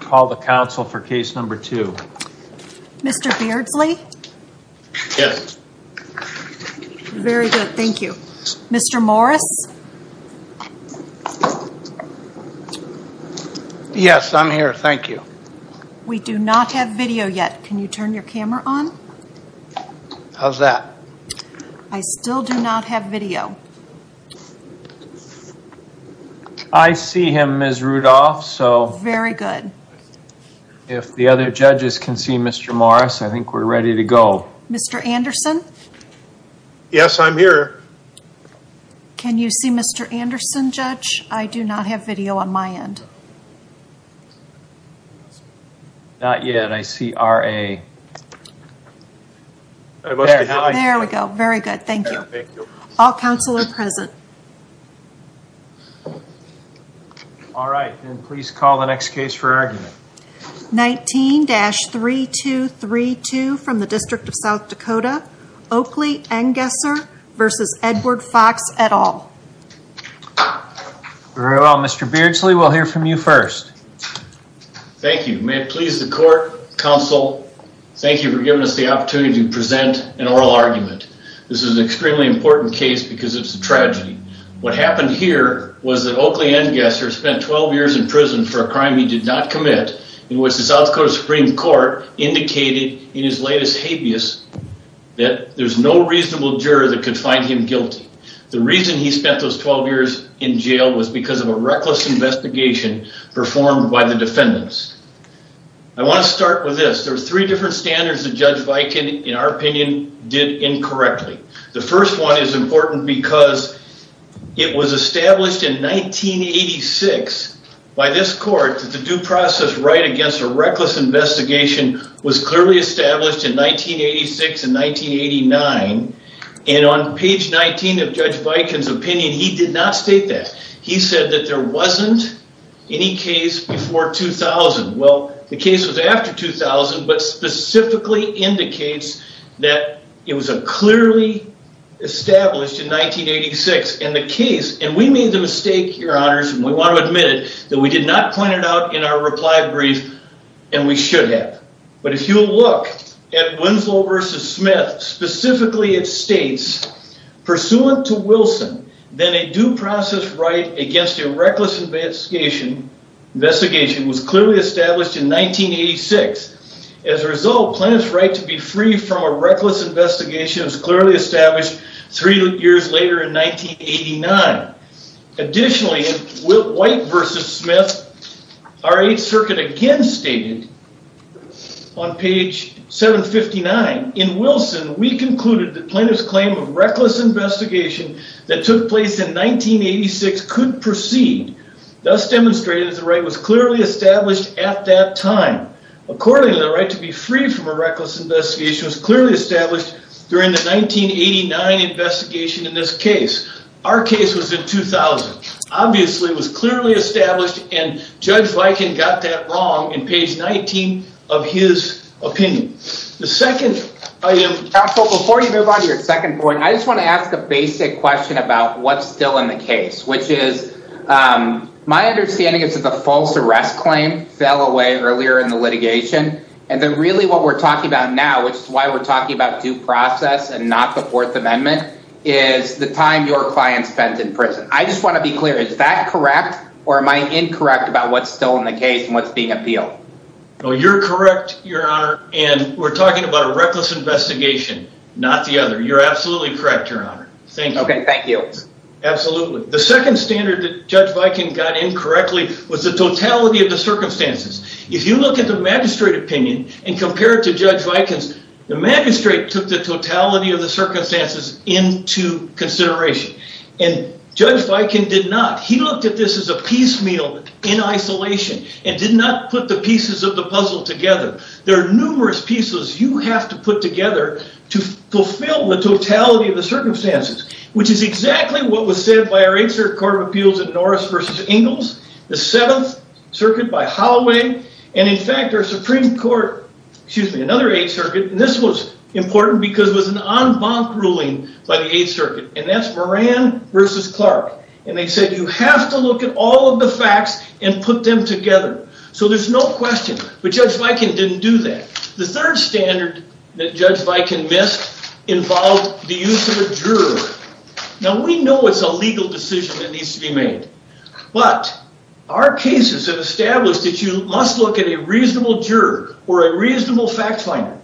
Call the council for case number two. Mr. Beardsley. Yes. Very good. Thank you. Mr. Morris. Yes, I'm here. Thank you. We do not have video yet. Can you turn your camera on? How's that? I still do not have video. I see him, Ms. Rudolph. Very good. If the other judges can see Mr. Morris, I think we're ready to go. Mr. Anderson. Yes, I'm here. Can you see Mr. Anderson, judge? I do not have video on my end. Not yet. I see R.A. There we go. Very good. Thank you. All council are present. All right, and please call the next case for argument. 19-3232 from the District of South Dakota Supreme Court. Mr. Beardsley, we'll hear from you first. Thank you. May it please the court, council, thank you for giving us the opportunity to present an oral argument. This is an extremely important case because it's a tragedy. What happened here was that Oakley Engesser spent 12 years in prison for a crime he did not commit in which the South Dakota Supreme Court indicated in his latest habeas that there's no reasonable juror that could find him guilty. The reason he spent those 12 years in jail was because of a reckless investigation performed by the defendants. I want to start with this. There were three different standards that Judge Viken, in our opinion, did incorrectly. The first one is important because it was established in 1986 by this court that the due process right against a reckless investigation was clearly established in 1986 and 1989, and on page 19 of Judge Viken's opinion, he did not state that. He said that there wasn't any case before 2000. Well, the case was after 2000, but specifically indicates that it was a clearly established in 1986, and the case, and we made the mistake, your honors, and we want to admit it, that we did not point it out in our reply brief, and we should have. But if you'll look at Winslow v. Smith, specifically it states, pursuant to Wilson, then a due process right against a reckless investigation investigation was clearly established in 1986. As a result, plaintiff's right to be free from a reckless investigation was clearly established three years later in 1989. Additionally, White v. Smith, our Eighth Circuit again stated on page 759, in Wilson, we concluded that plaintiff's claim of reckless investigation that took place in 1986 could proceed. Thus demonstrated, the right was clearly established at that time. Accordingly, the right to be free from a reckless investigation was clearly established during the 1989 investigation in this case. Our case was in 2000. Obviously, it was clearly established, and Judge Viken got that wrong in page 19 of his opinion. The second, I am... Counsel, before you move on to your second point, I just want to ask a basic question about what's still in the case, which is, my understanding is that the false arrest claim fell away earlier in the litigation, and then really what we're talking about now, which is why we're talking about due process and not the or am I incorrect about what's still in the case and what's being appealed? No, you're correct, Your Honor, and we're talking about a reckless investigation, not the other. You're absolutely correct, Your Honor. Thank you. Okay, thank you. Absolutely. The second standard that Judge Viken got incorrectly was the totality of the circumstances. If you look at the magistrate opinion and compare it to Judge Viken's, the magistrate took the totality of the circumstances into consideration, and Judge Viken did not. He looked at this as a piecemeal in isolation and did not put the pieces of the puzzle together. There are numerous pieces you have to put together to fulfill the totality of the circumstances, which is exactly what was said by our Eighth Circuit Court of Appeals in Norris v. Ingalls, the Seventh Circuit by Holloway, and in fact, our Supreme Court, excuse me, another Eighth Circuit, and this was important because it was an en banc ruling by the Eighth Circuit, and that's Moran v. Clark, and they said, you have to look at all of the facts and put them together. So there's no question, but Judge Viken didn't do that. The third standard that Judge Viken missed involved the use of a juror. Now, we know it's a legal decision that needs to be made, but our cases have established that you must look at a reasonable juror or a juror,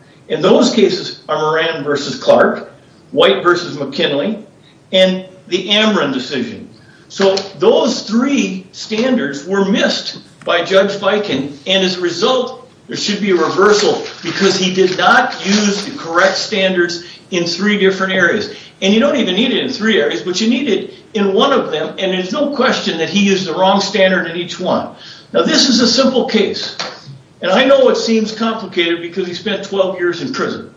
White v. McKinley, and the Amron decision. So those three standards were missed by Judge Viken, and as a result, there should be a reversal because he did not use the correct standards in three different areas, and you don't even need it in three areas, but you need it in one of them, and there's no question that he used the wrong standard in each one. Now, this is a simple case, and I know it seems complicated because he spent 12 years in prison.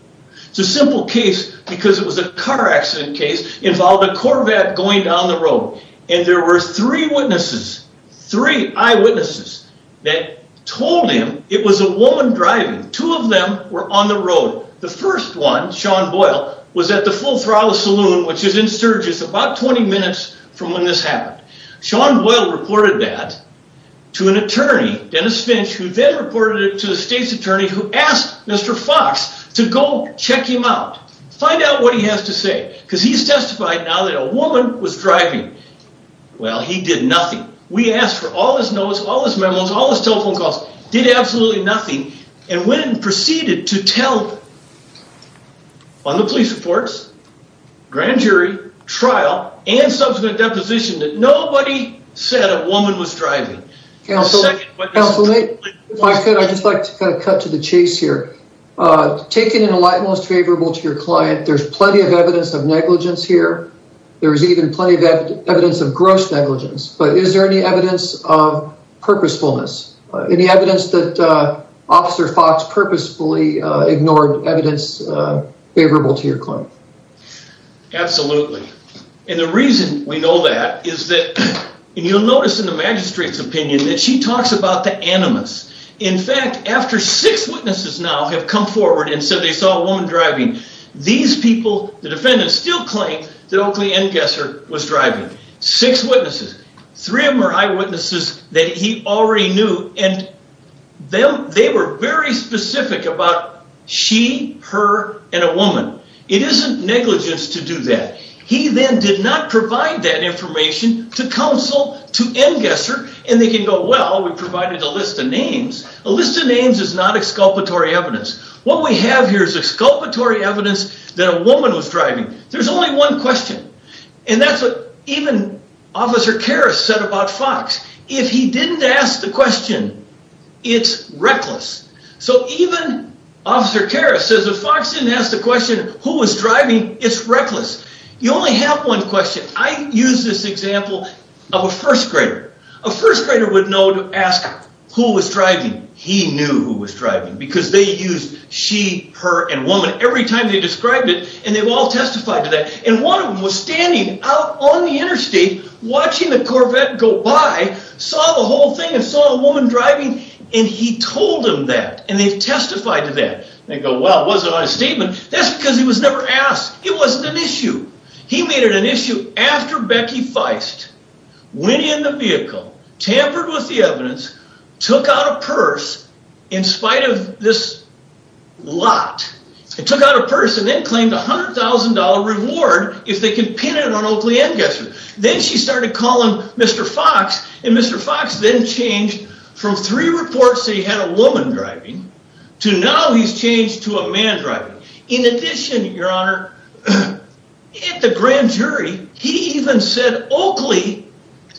It's a simple case because it was a car accident case involving a Corvette going down the road, and there were three witnesses, three eyewitnesses that told him it was a woman driving. Two of them were on the road. The first one, Sean Boyle, was at the Full Throttle Saloon, which is in Sturgis, about 20 minutes from when this happened. Sean Boyle reported that to an attorney, Dennis Finch, who then reported it to the state's attorney, who asked Mr. Fox to go check him out, find out what he has to say, because he's testified now that a woman was driving. Well, he did nothing. We asked for all his notes, all his memos, all his telephone calls, did absolutely nothing, and went and proceeded to tell on the police reports, grand jury, trial, and subsequent deposition, that nobody said a woman was driving. Counsel, if I could, I'd just like to kind of cut to the chase here. Taken in a light, most favorable to your client, there's plenty of evidence of negligence here. There's even plenty of evidence of gross negligence, but is there any evidence of purposefulness? Any evidence that Officer Fox purposefully ignored evidence favorable to your client? Absolutely, and the reason we know that is that, and you'll notice in the magistrate's opinion, that she talks about the animus. In fact, after six witnesses now have come forward and said they saw a woman driving, these people, the defendants, still claim that Oakley Engesser was driving. Six witnesses. Three of them are eyewitnesses that he already knew, and they were very specific about she, her, and a woman. It isn't negligence to do that. He then did not provide that information to counsel, to Engesser, and they can go, well, we provided a list of names. A list of names is not exculpatory evidence. What we have here is exculpatory evidence that a woman was driving. There's only one question, and that's what even Officer Karras said about Fox. If he didn't ask the question, it's reckless. So even Officer Karras says if Fox didn't ask the question, who was driving, it's reckless. You only have one question. I use this example of a first grader. A first grader would know to ask who was driving. He knew who was driving because they used she, her, and woman every time they described it, and they've all testified to that, and one of them was standing out on the interstate watching the Corvette go by, saw the whole thing, and saw a woman driving, and he told him that, and they've testified to that. They go, well, it wasn't on a statement. That's because he was never asked. It wasn't an issue. He made it an issue after Becky Feist went in the vehicle, tampered with the evidence, took out a purse in spite of this lot, and took out a purse and then claimed $100,000 reward if they can pin it on Oakley Engesser. Then she started calling Mr. Fox, and Mr. Fox then changed from three reports that he had a woman driving to now he's changed to a man driving. In addition, your honor, at the grand jury, he even said Oakley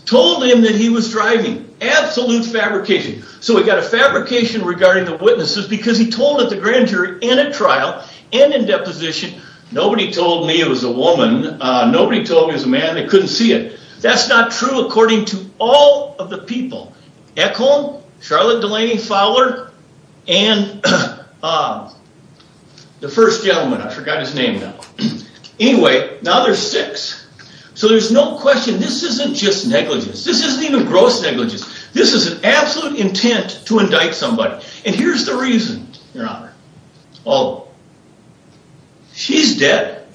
told him that he was driving. Absolute fabrication. So we've got a fabrication regarding the witnesses because he told at the grand jury in a trial and in deposition, nobody told me it was a woman. Nobody told me it was a woman. They couldn't see it. That's not true according to all of the people. Ekhom, Charlotte Delaney Fowler, and the first gentleman. I forgot his name now. Anyway, now there's six. So there's no question this isn't just negligence. This isn't even gross negligence. This is an absolute intent to indict somebody, and here's the reason, your honor. Oh, she's dead.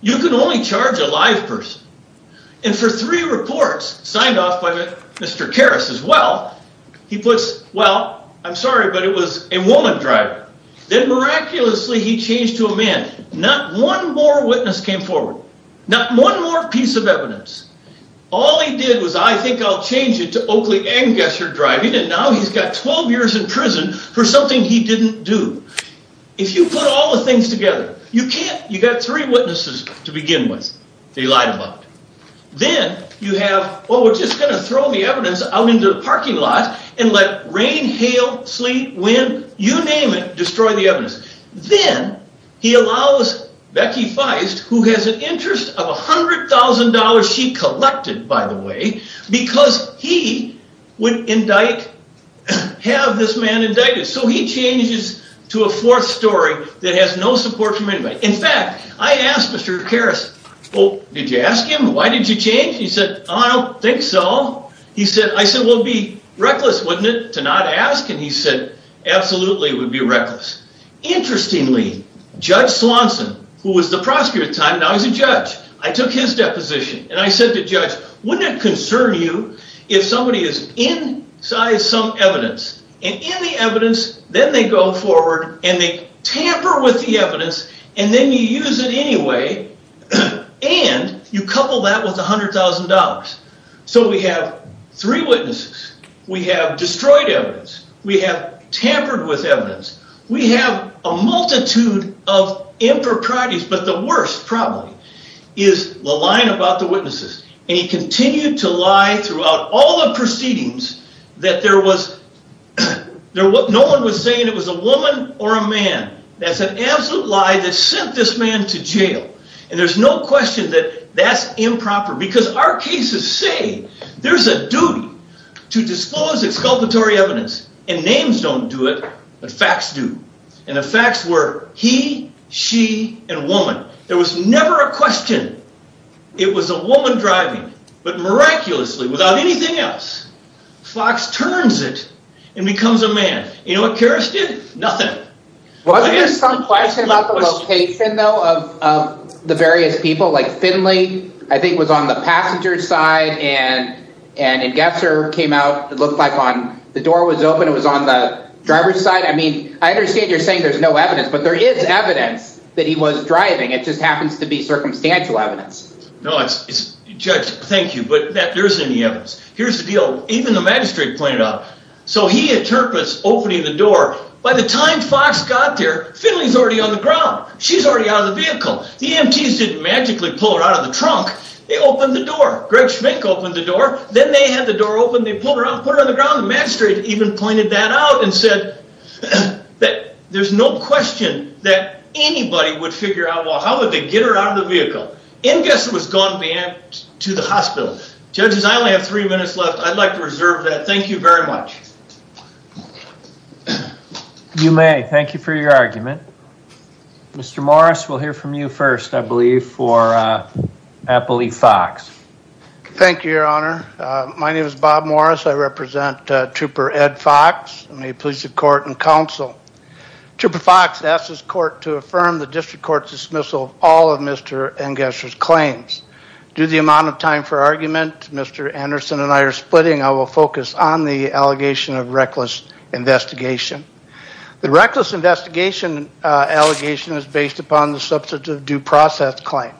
You can only charge a live person, and for three reports signed off by Mr. Karas as well, he puts, well, I'm sorry, but it was a woman driving. Then miraculously, he changed to a man. Not one more witness came forward. Not one more piece of evidence. All he did was, I think I'll change it to Oakley Engesser driving, and now he's got 12 years in prison for something he didn't do. If you put all the things together, you can't. You got three witnesses to begin with they lied about. Then you have, well, we're just going to throw the evidence out into the parking lot and let rain, hail, sleet, wind, you name it, destroy the evidence. Then he allows Becky Feist, who has an interest of $100,000 she collected, by the way, because he would indict, have this man indicted. So he changes to a fourth story that has no support from anybody. In fact, I asked Mr. Karas, well, did you ask him? Why did you change? He said, I don't think so. I said, well, it'd be reckless, wouldn't it, to not ask? And he said, absolutely, it would be reckless. Interestingly, Judge Swanson, who was the prosecutor at the time, now he's a judge. I took his deposition, and I said to Judge, wouldn't it concern you if somebody is inside some evidence? And in the evidence, then they go forward, and they tamper with the evidence, and then you use it anyway, and you couple that with $100,000. So we have three witnesses. We have destroyed evidence. We have tampered with evidence. We have a multitude of improprieties, but the worst, probably, is the lying about the witnesses. And he continued to lie throughout all the proceedings that there was no one was saying it was a woman or a man. That's an absolute lie that sent this man to jail. And there's no question that that's improper, because our cases say there's a duty to disclose exculpatory evidence. And names don't do it, but facts do. And the facts were he, she, and woman. There was never a question it was a woman driving. But miraculously, without anything else, Fox turns it and becomes a man. You know what Karrasch did? Nothing. Wasn't there some question about the location, though, of the various people? Like Finley, I think, was on the passenger side, and Gesser came out. It looked like the door was open. It was on the driver's side. I mean, I understand you're saying there's no evidence, but there is evidence that he was driving. It just happens to be circumstantial evidence. No, it's, Judge, thank you, but there isn't any evidence. Here's the deal. Even the magistrate pointed out, so he interprets opening the door. By the time Fox got there, Finley's already on the ground. She's already out of the vehicle. The EMTs didn't magically pull her out of the trunk. They opened the door. Greg Schmink opened the door. Then they had the door open. They pulled her out, put her on the ground. The magistrate even pointed that out and said that there's no question that anybody would figure out, well, how would they get her out of the vehicle? And Gesser was gone to the hospital. Judges, I only have three minutes left. I'd like to reserve that. Thank you very much. You may. Thank you for your argument. Mr. Morris, we'll hear from you first, I believe, for Appley Fox. Thank you, Your Honor. My name is Bob Morris. I represent Trooper Ed Fox in the Court and Counsel. Trooper Fox asked this court to affirm the district court's dismissal of all of Mr. and Gesser's claims. Due to the amount of time for argument, Mr. Anderson and I are splitting. I will focus on the allegation of reckless investigation. The reckless investigation allegation is based upon the substantive due process claim.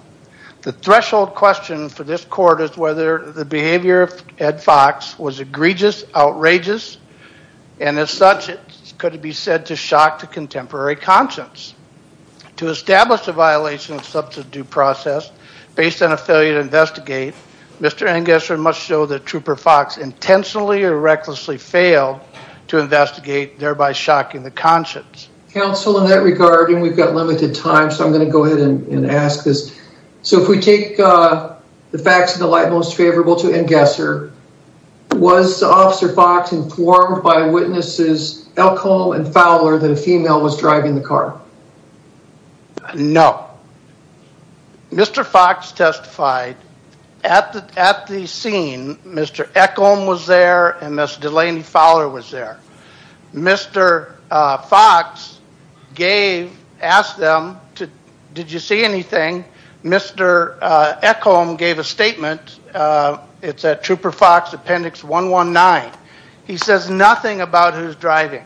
The threshold question for this could be said to shock the contemporary conscience. To establish a violation of substantive due process based on a failure to investigate, Mr. and Gesser must show that Trooper Fox intentionally or recklessly failed to investigate, thereby shocking the conscience. Counsel, in that regard, and we've got limited time, so I'm going to go ahead and ask this. So if we take the facts of the light most favorable to end Gesser, was Officer Fox informed by witnesses Elkholm and Fowler that a female was driving the car? No. Mr. Fox testified at the scene. Mr. Elkholm was there and Ms. Delaney Fowler was there. Mr. Fox gave, asked them, did you see anything? Mr. Elkholm gave a statement. It's at Trooper Fox appendix 119. He says nothing about who's driving.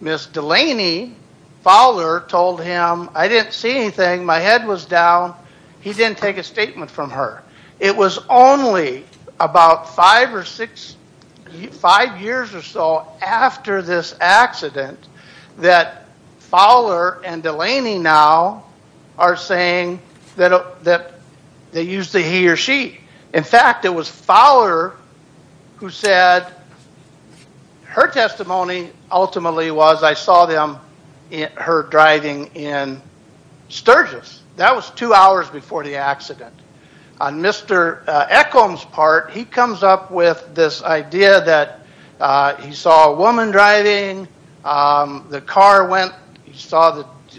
Ms. Delaney Fowler told him, I didn't see anything. My head was down. He didn't take a statement from her. It was only about five or six, five years or so after this accident that Fowler and Delaney now are saying that they used the he or she. In fact, it was Fowler who said her testimony ultimately was I saw them, her driving in Sturgis. That was two hours before the accident. On Mr. Elkholm's he comes up with this idea that he saw a woman driving. The car went, he saw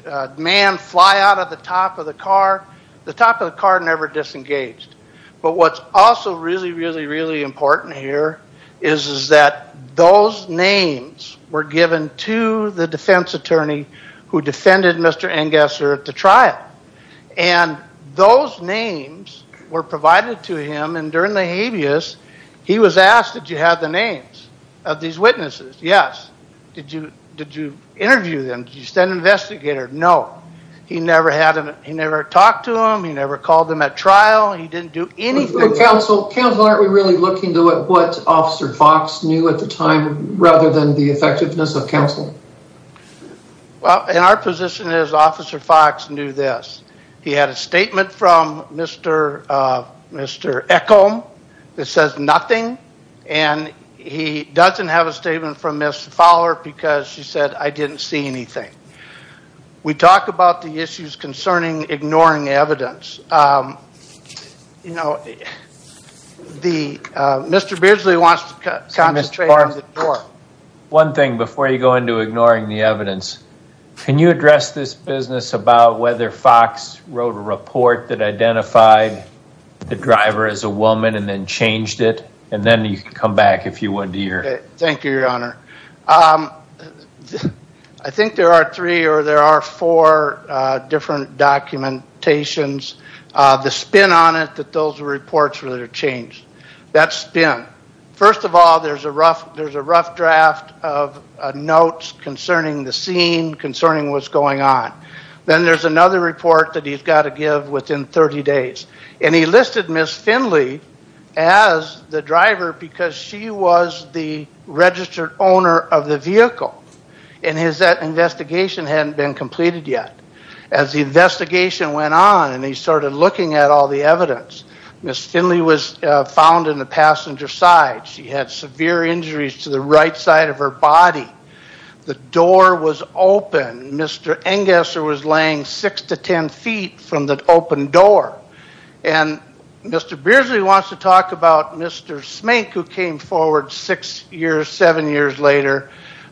the man fly out of the top of the car. The top of the car never disengaged. But what's also really, really, really important here is that those names were given to the defense attorney who defended Mr. at the trial. Those names were provided to him. During the habeas, he was asked, did you have the names of these witnesses? Yes. Did you interview them? Did you send an investigator? No. He never talked to them. He never called them at trial. He didn't do anything. Counsel, aren't we really looking to what Officer Fox knew at the time rather than the effectiveness of counsel? Well, and our position is Officer Fox knew this. He had a statement from Mr. Elkholm that says nothing. And he doesn't have a statement from Ms. Fowler because she said, I didn't see anything. We talk about the issues concerning ignoring evidence. Mr. Beardsley wants to concentrate on the court. One thing before you go into ignoring the evidence, can you address this business about whether Fox wrote a report that identified the driver as a woman and then changed it? And then you can come back if you want to hear. Thank you, your honor. I think there are three or there are four different documentations. The spin on it that those reports really are that spin. First of all, there's a rough draft of notes concerning the scene, concerning what's going on. Then there's another report that he's got to give within 30 days. And he listed Ms. Finley as the driver because she was the registered owner of the vehicle. And that investigation hadn't been completed yet. As the investigation went on and he started looking at all the evidence, Ms. Finley was found in the passenger side. She had severe injuries to the right side of her body. The door was open. Mr. Engesser was laying six to 10 feet from the open door. And Mr. Beardsley wants to talk about Mr. Smink who came forward six years, seven years later.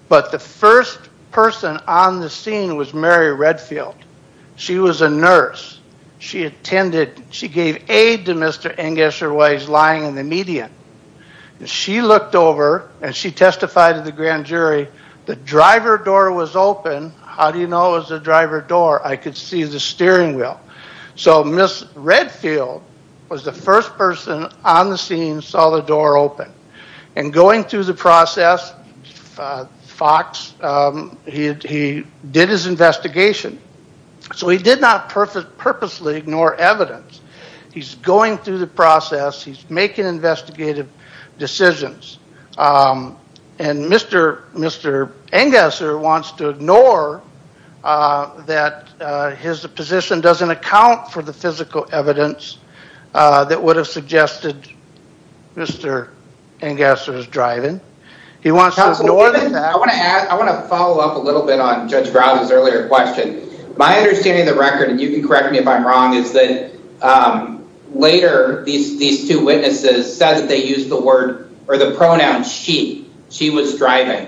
But the first person on the scene was Mary Redfield. She was a nurse. She attended, she gave aid to Mr. Engesser while he's lying in the median. And she looked over and she testified to the grand jury, the driver door was open. How do you know it was the driver door? I could see the steering wheel. So Ms. Redfield was first person on the scene saw the door open. And going through the process, Fox, he did his investigation. So he did not purposely ignore evidence. He's going through the process. He's making investigative decisions. And Mr. Engesser wants to ignore that his position doesn't account for the physical evidence that would have suggested Mr. Engesser's driving. I want to follow up a little bit on Judge Brown's earlier question. My understanding of the record, and you can correct me if I'm wrong, is that later these two witnesses said that they used the word or the pronoun she. She was driving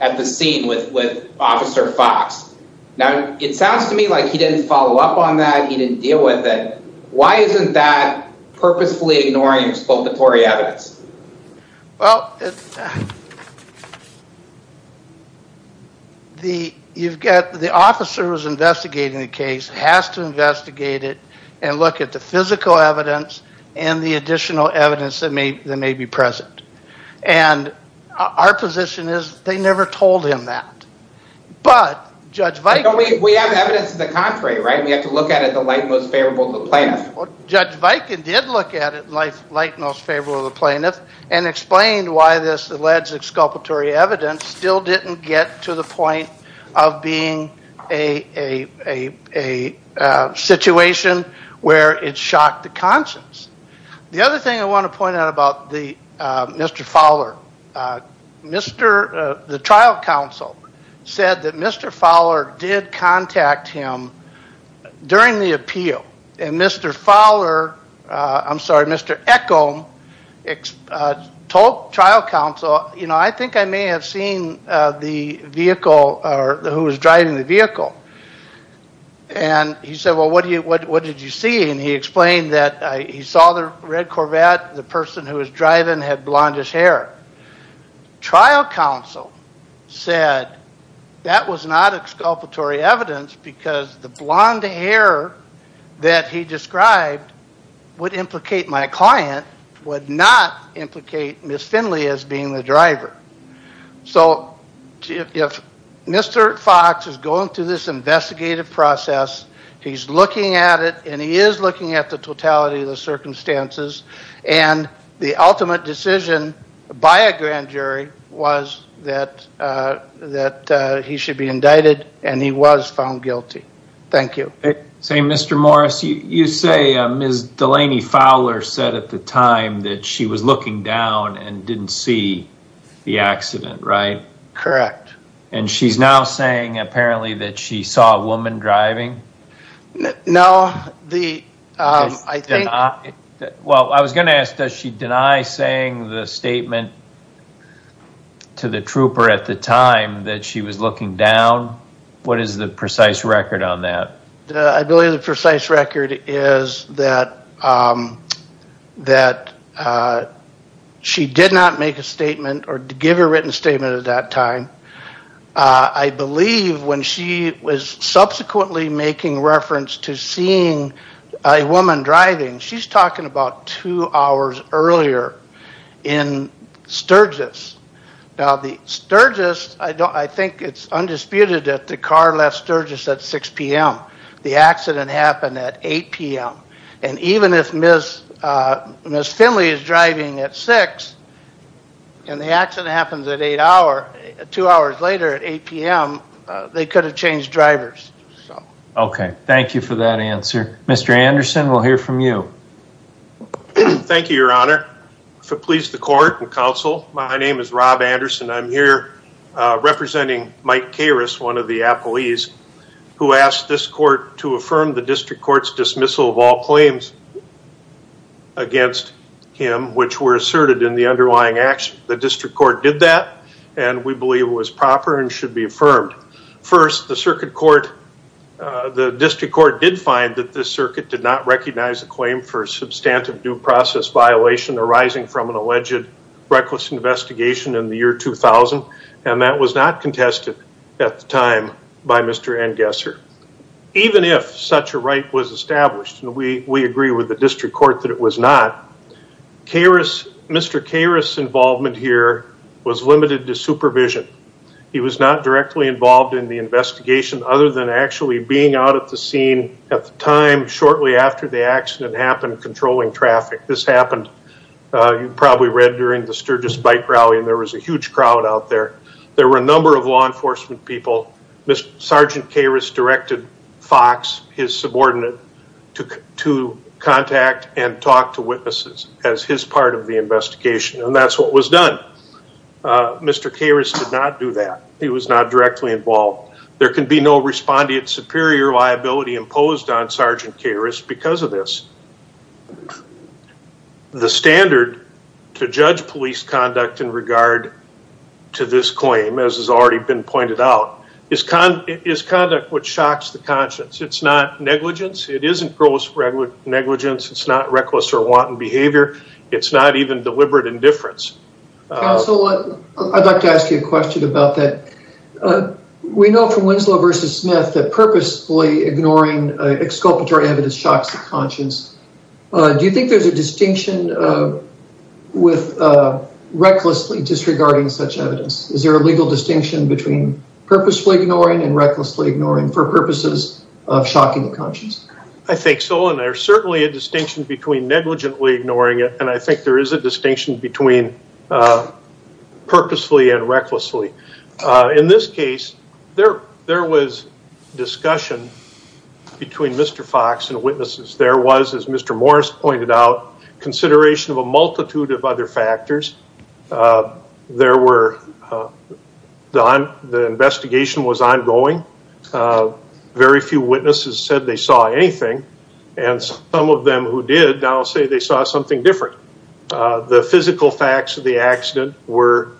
at the scene with Officer Fox. Now, it sounds to me like he didn't follow up on that. He didn't deal with it. Why isn't that purposefully ignoring expulsory evidence? Well, the officer who's investigating the case has to investigate it and look at the physical evidence and the additional evidence that may be present. And our position is they never told him that. We have evidence to the contrary, right? We have to look at it like most favorable to the plaintiff. Judge Viken did look at it like most favorable to the plaintiff and explained why this alleged exculpatory evidence still didn't get to the point of being a situation where it said that Mr. Fowler did contact him during the appeal. And Mr. Fowler, I'm sorry, Mr. Echol told trial counsel, you know, I think I may have seen the vehicle or who was driving the vehicle. And he said, well, what did you see? And he explained that he saw the red Corvette, the person who was driving had blondish hair. Trial counsel said that was not exculpatory evidence because the blonde hair that he described would implicate my client, would not implicate Ms. Finley as being the driver. So if Mr. Fox is going through this investigative process, he's looking at it and he is looking at the totality of the circumstances and the ultimate decision by a grand jury was that he should be indicted and he was found guilty. Thank you. Say, Mr. Morris, you say Ms. Delaney Fowler said at the time that she was looking down and didn't see the accident, right? Correct. And she's now saying apparently that she saw a woman driving? No, the, I think, well, I was going to ask, does she deny saying the statement to the trooper at the time that she was looking down? What is the precise record on that? I believe the precise record is that that she did not make a statement or give a written statement at that time. I believe when she was subsequently making reference to seeing a woman driving, she's talking about two hours earlier in Sturgis. Now the Sturgis, I think it's undisputed that the car left Sturgis at 6 p.m. The accident happened at 8 p.m. And even if Ms. Finley is driving at 6 and the accident happens at 8 hours, two hours later at 8 p.m., they could have changed drivers. Okay. Thank you for that answer. Mr. Anderson, we'll hear from you. Thank you, your honor. If it pleases the court and counsel, my name is Rob Anderson. I'm here to ask this court to affirm the district court's dismissal of all claims against him, which were asserted in the underlying action. The district court did that and we believe it was proper and should be affirmed. First, the circuit court, the district court did find that this circuit did not recognize a claim for substantive due process violation arising from an alleged reckless investigation in the year 2000 and that was not contested at the time by Mr. Engesser. Even if such a right was established, and we agree with the district court that it was not, Mr. Karras' involvement here was limited to supervision. He was not directly involved in the investigation other than actually being out at the scene at the time shortly after the accident happened, controlling traffic. This happened, you probably read during the Sturgis bike rally, and there was a huge crowd out there. There were a number of law enforcement people. Sergeant Karras directed Fox, his subordinate, to contact and talk to witnesses as his part of the investigation, and that's what was done. Mr. Karras did not do that. He was not directly involved. There can be no respondent superior liability imposed on Sergeant Karras because of this. The standard to judge police conduct in regard to this claim, as has already been pointed out, is conduct which shocks the conscience. It's not negligence. It isn't gross negligence. It's not reckless or wanton behavior. It's not even deliberate indifference. Counsel, I'd like to ask you a question about that. We know from Winslow v. Smith that purposefully ignoring exculpatory evidence shocks the conscience. Do you think there's a distinction with recklessly disregarding such evidence? Is there a legal distinction between purposefully ignoring and recklessly ignoring for purposes of shocking the conscience? I think so, and there's certainly a distinction between negligently ignoring it, and I think there is a distinction between purposefully and recklessly. In this case, there was discussion between Mr. Fox and witnesses. There was, as Mr. Morris pointed out, consideration of a multitude of other factors. The investigation was ongoing. Very few witnesses said they saw anything, and some of them who did now say they saw something different. The physical facts of the accident were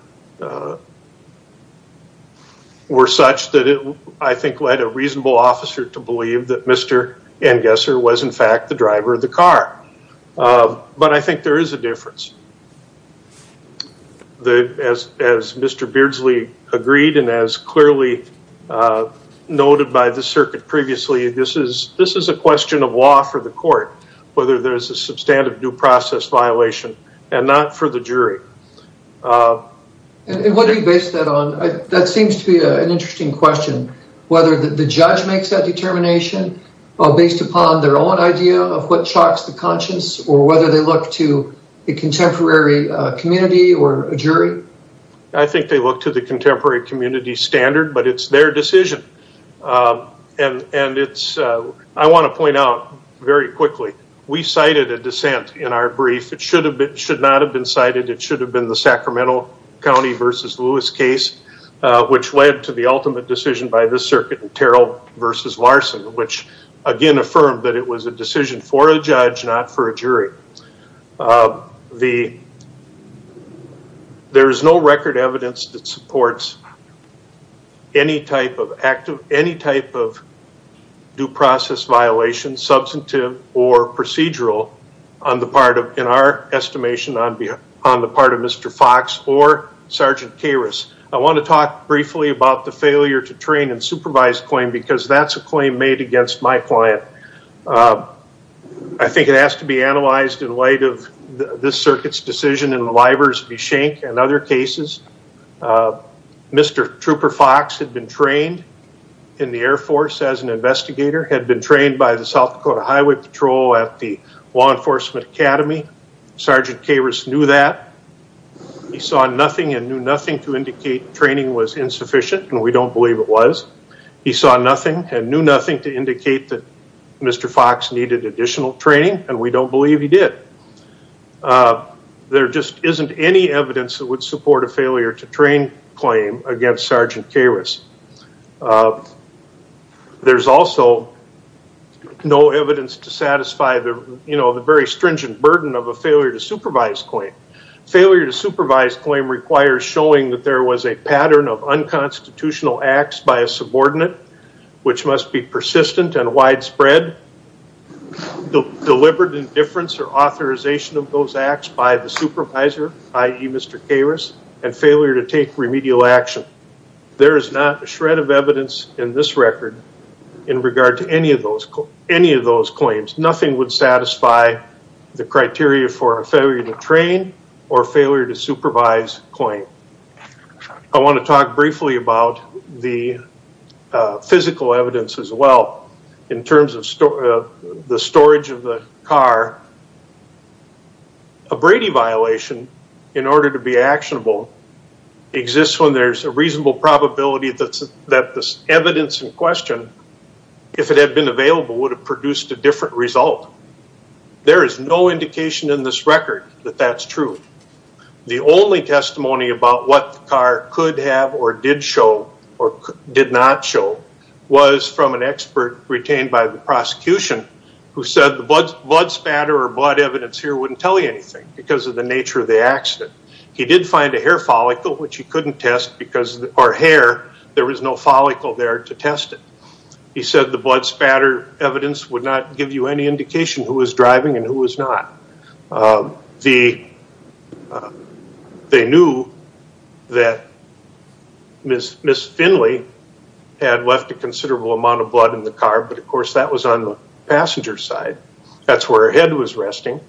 such that it, I think, led a reasonable officer to believe that Mr. Angesser was, in fact, the driver of the car, but I think there is a difference. As Mr. Beardsley agreed and as clearly noted by the circuit previously, this is a question of law for the court, whether there's a substantive due process violation and not for the jury. And what do you base that on? That seems to be an interesting question, whether the judge makes that determination based upon their own idea of what shocks the conscience or whether they look to a contemporary community or a jury? I think they look to the contemporary community standard, but it's their decision, and I want to point out very quickly, we cited a should have been the Sacramento County v. Lewis case, which led to the ultimate decision by this circuit in Terrell v. Larson, which again affirmed that it was a decision for a judge, not for a jury. There is no record evidence that supports any type of active, any type of due process violation, substantive or procedural on the part of, in our estimation, on the part of Mr. Fox or Sergeant Karras. I want to talk briefly about the failure to train and supervise claim because that's a claim made against my client. I think it has to be analyzed in light of this circuit's decision in Livers v. Schenck and other cases. Mr. Trooper Fox had been trained in the Air Force as an investigator, had been trained by the South Dakota Highway Patrol at the Law Enforcement Academy. Sergeant Karras knew that. He saw nothing and knew nothing to indicate training was insufficient, and we don't believe it was. He saw nothing and knew nothing to indicate that Mr. Fox needed additional training, and we don't believe he did. There just isn't any evidence that would support a failure to train claim against Sergeant Karras. There's also no evidence to satisfy the very stringent burden of a failure to supervise claim. Failure to supervise claim requires showing that there was a pattern of unconstitutional acts by a subordinate, which must be persistent and widespread, deliberate indifference or authorization of those acts by the supervisor, i.e. Mr. Karras, and failure to take remedial action. There is not a shred of evidence in this record in regard to any of those claims. Nothing would satisfy the criteria for a failure to train or failure to supervise claim. I want to talk briefly about the physical evidence as well in terms of the storage of the car. A Brady violation, in order to be actionable, exists when there's a reasonable probability that this evidence in question, if it had been available, would have produced a different result. There is no indication in this record that that's true. The only testimony about what the car could have or did show or did not show was from an expert retained by the prosecution who said the blood spatter or blood evidence here wouldn't tell you anything because of the nature of the accident. He did find a hair follicle, which he couldn't test because, or hair, there was no follicle there to test it. He said the blood spatter evidence would not give you any indication who was driving and who was not. They knew that Ms. Finley had left a considerable amount of blood in the car, but of course that was on the passenger side. That's where her head was resting.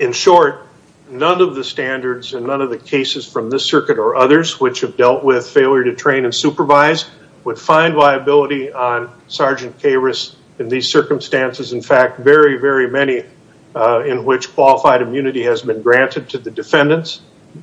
In short, none of the standards and none of the cases from this circuit or others which have dealt with failure to train and supervise would find liability on Sergeant Karras in these circumstances. In fact, very, very many in which qualified immunity has been granted to the defendants.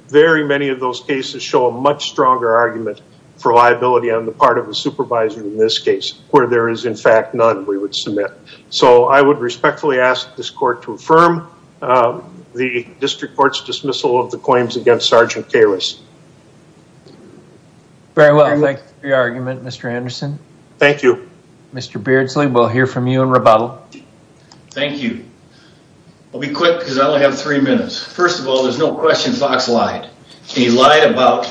Very many of those cases show a much stronger argument for liability on the part of supervising in this case where there is in fact none we would submit. So I would respectfully ask this court to affirm the district court's dismissal of the claims against Sergeant Karras. Very well, thank you for your argument, Mr. Anderson. Thank you. Mr. Beardsley, we'll hear from you in rebuttal. Thank you. I'll be quick because I only have three minutes. First of all, there's no question Fox lied. He lied about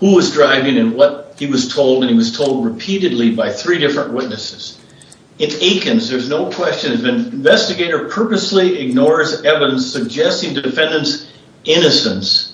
who was driving and what he was told, and he was told repeatedly by three different witnesses. It achens. There's no question. If an investigator purposely ignores evidence suggesting defendant's innocence,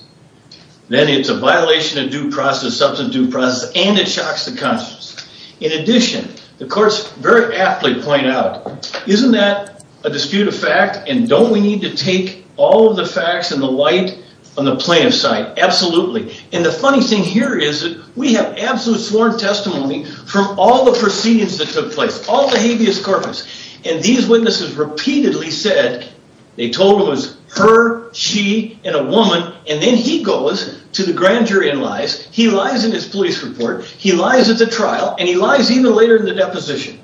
then it's a violation of due process, substantive due process, and it shocks the conscience. In addition, the courts very aptly point out, isn't that a dispute of fact, and don't we need to take all of the facts and the light on the plaintiff's side? Absolutely. And the funny thing here is we have absolute sworn testimony from all the proceedings that took place, all the habeas corpus, and these witnesses repeatedly said they told him it was her, she, and a woman, and then he goes to the grand jury and lies. He lies in his police report. He lies at the trial, and he lies even later in the deposition.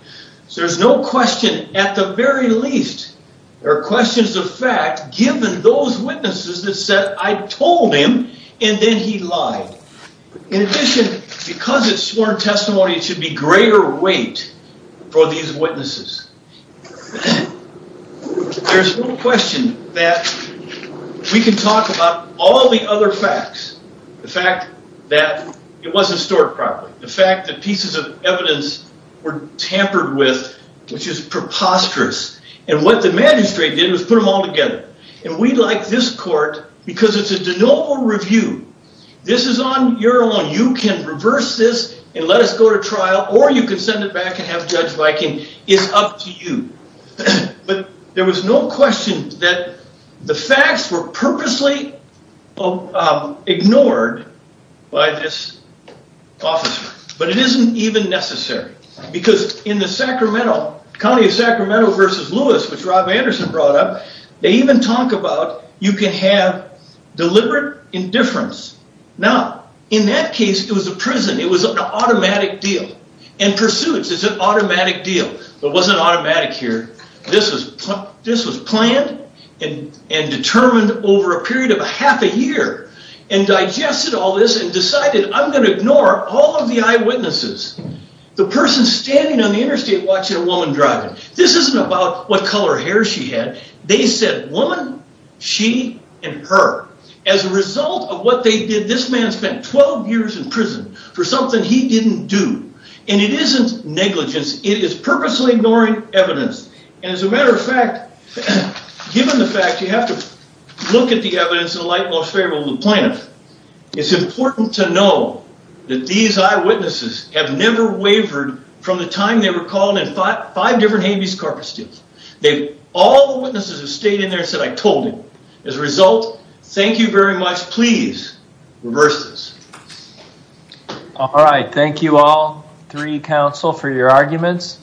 So there's no question, at the very least, there are questions of fact given those witnesses that said I told him, and then he lied. In addition, because it's sworn testimony, it should be greater weight for these witnesses. There's no question that we can talk about all the other facts. The fact that it wasn't stored properly, the fact that pieces of evidence were tampered with, which is preposterous, and what the magistrate did was put them all together. And we like this court because it's a de novo review. This is on your own. You can reverse this and let us go to trial, or you can send it back and have Judge Viking. It's up to you. But there was no question that the facts were purposely ignored by this officer. But it isn't even necessary, because in the county of Sacramento versus Lewis, which Rob Anderson brought up, they even talk about you can have deliberate indifference. Now, in that case, it was a prison. It was an automatic deal. And pursuits is an automatic deal. It wasn't automatic here. This was planned and determined over a period of half a year and digested all this and decided, I'm going to ignore all of the eyewitnesses. The person standing on the interstate watching a woman driving, this isn't about what color hair she had. They said woman, she, and her. As a result of what they did, this man spent 12 years in prison for something he didn't do. And it isn't negligence. It is purposely ignoring evidence. And as a matter of fact, given the fact you have to look at the evidence in the light most favorable to the plaintiff, it's important to know that these eyewitnesses have never wavered from the time they were called in five different habeas corpus deals. All the witnesses have stayed in there and said, I told him. As a result, thank you very much. Please reverse this. Thank you. All right. Thank you all three counsel for your arguments.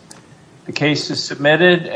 The case is submitted.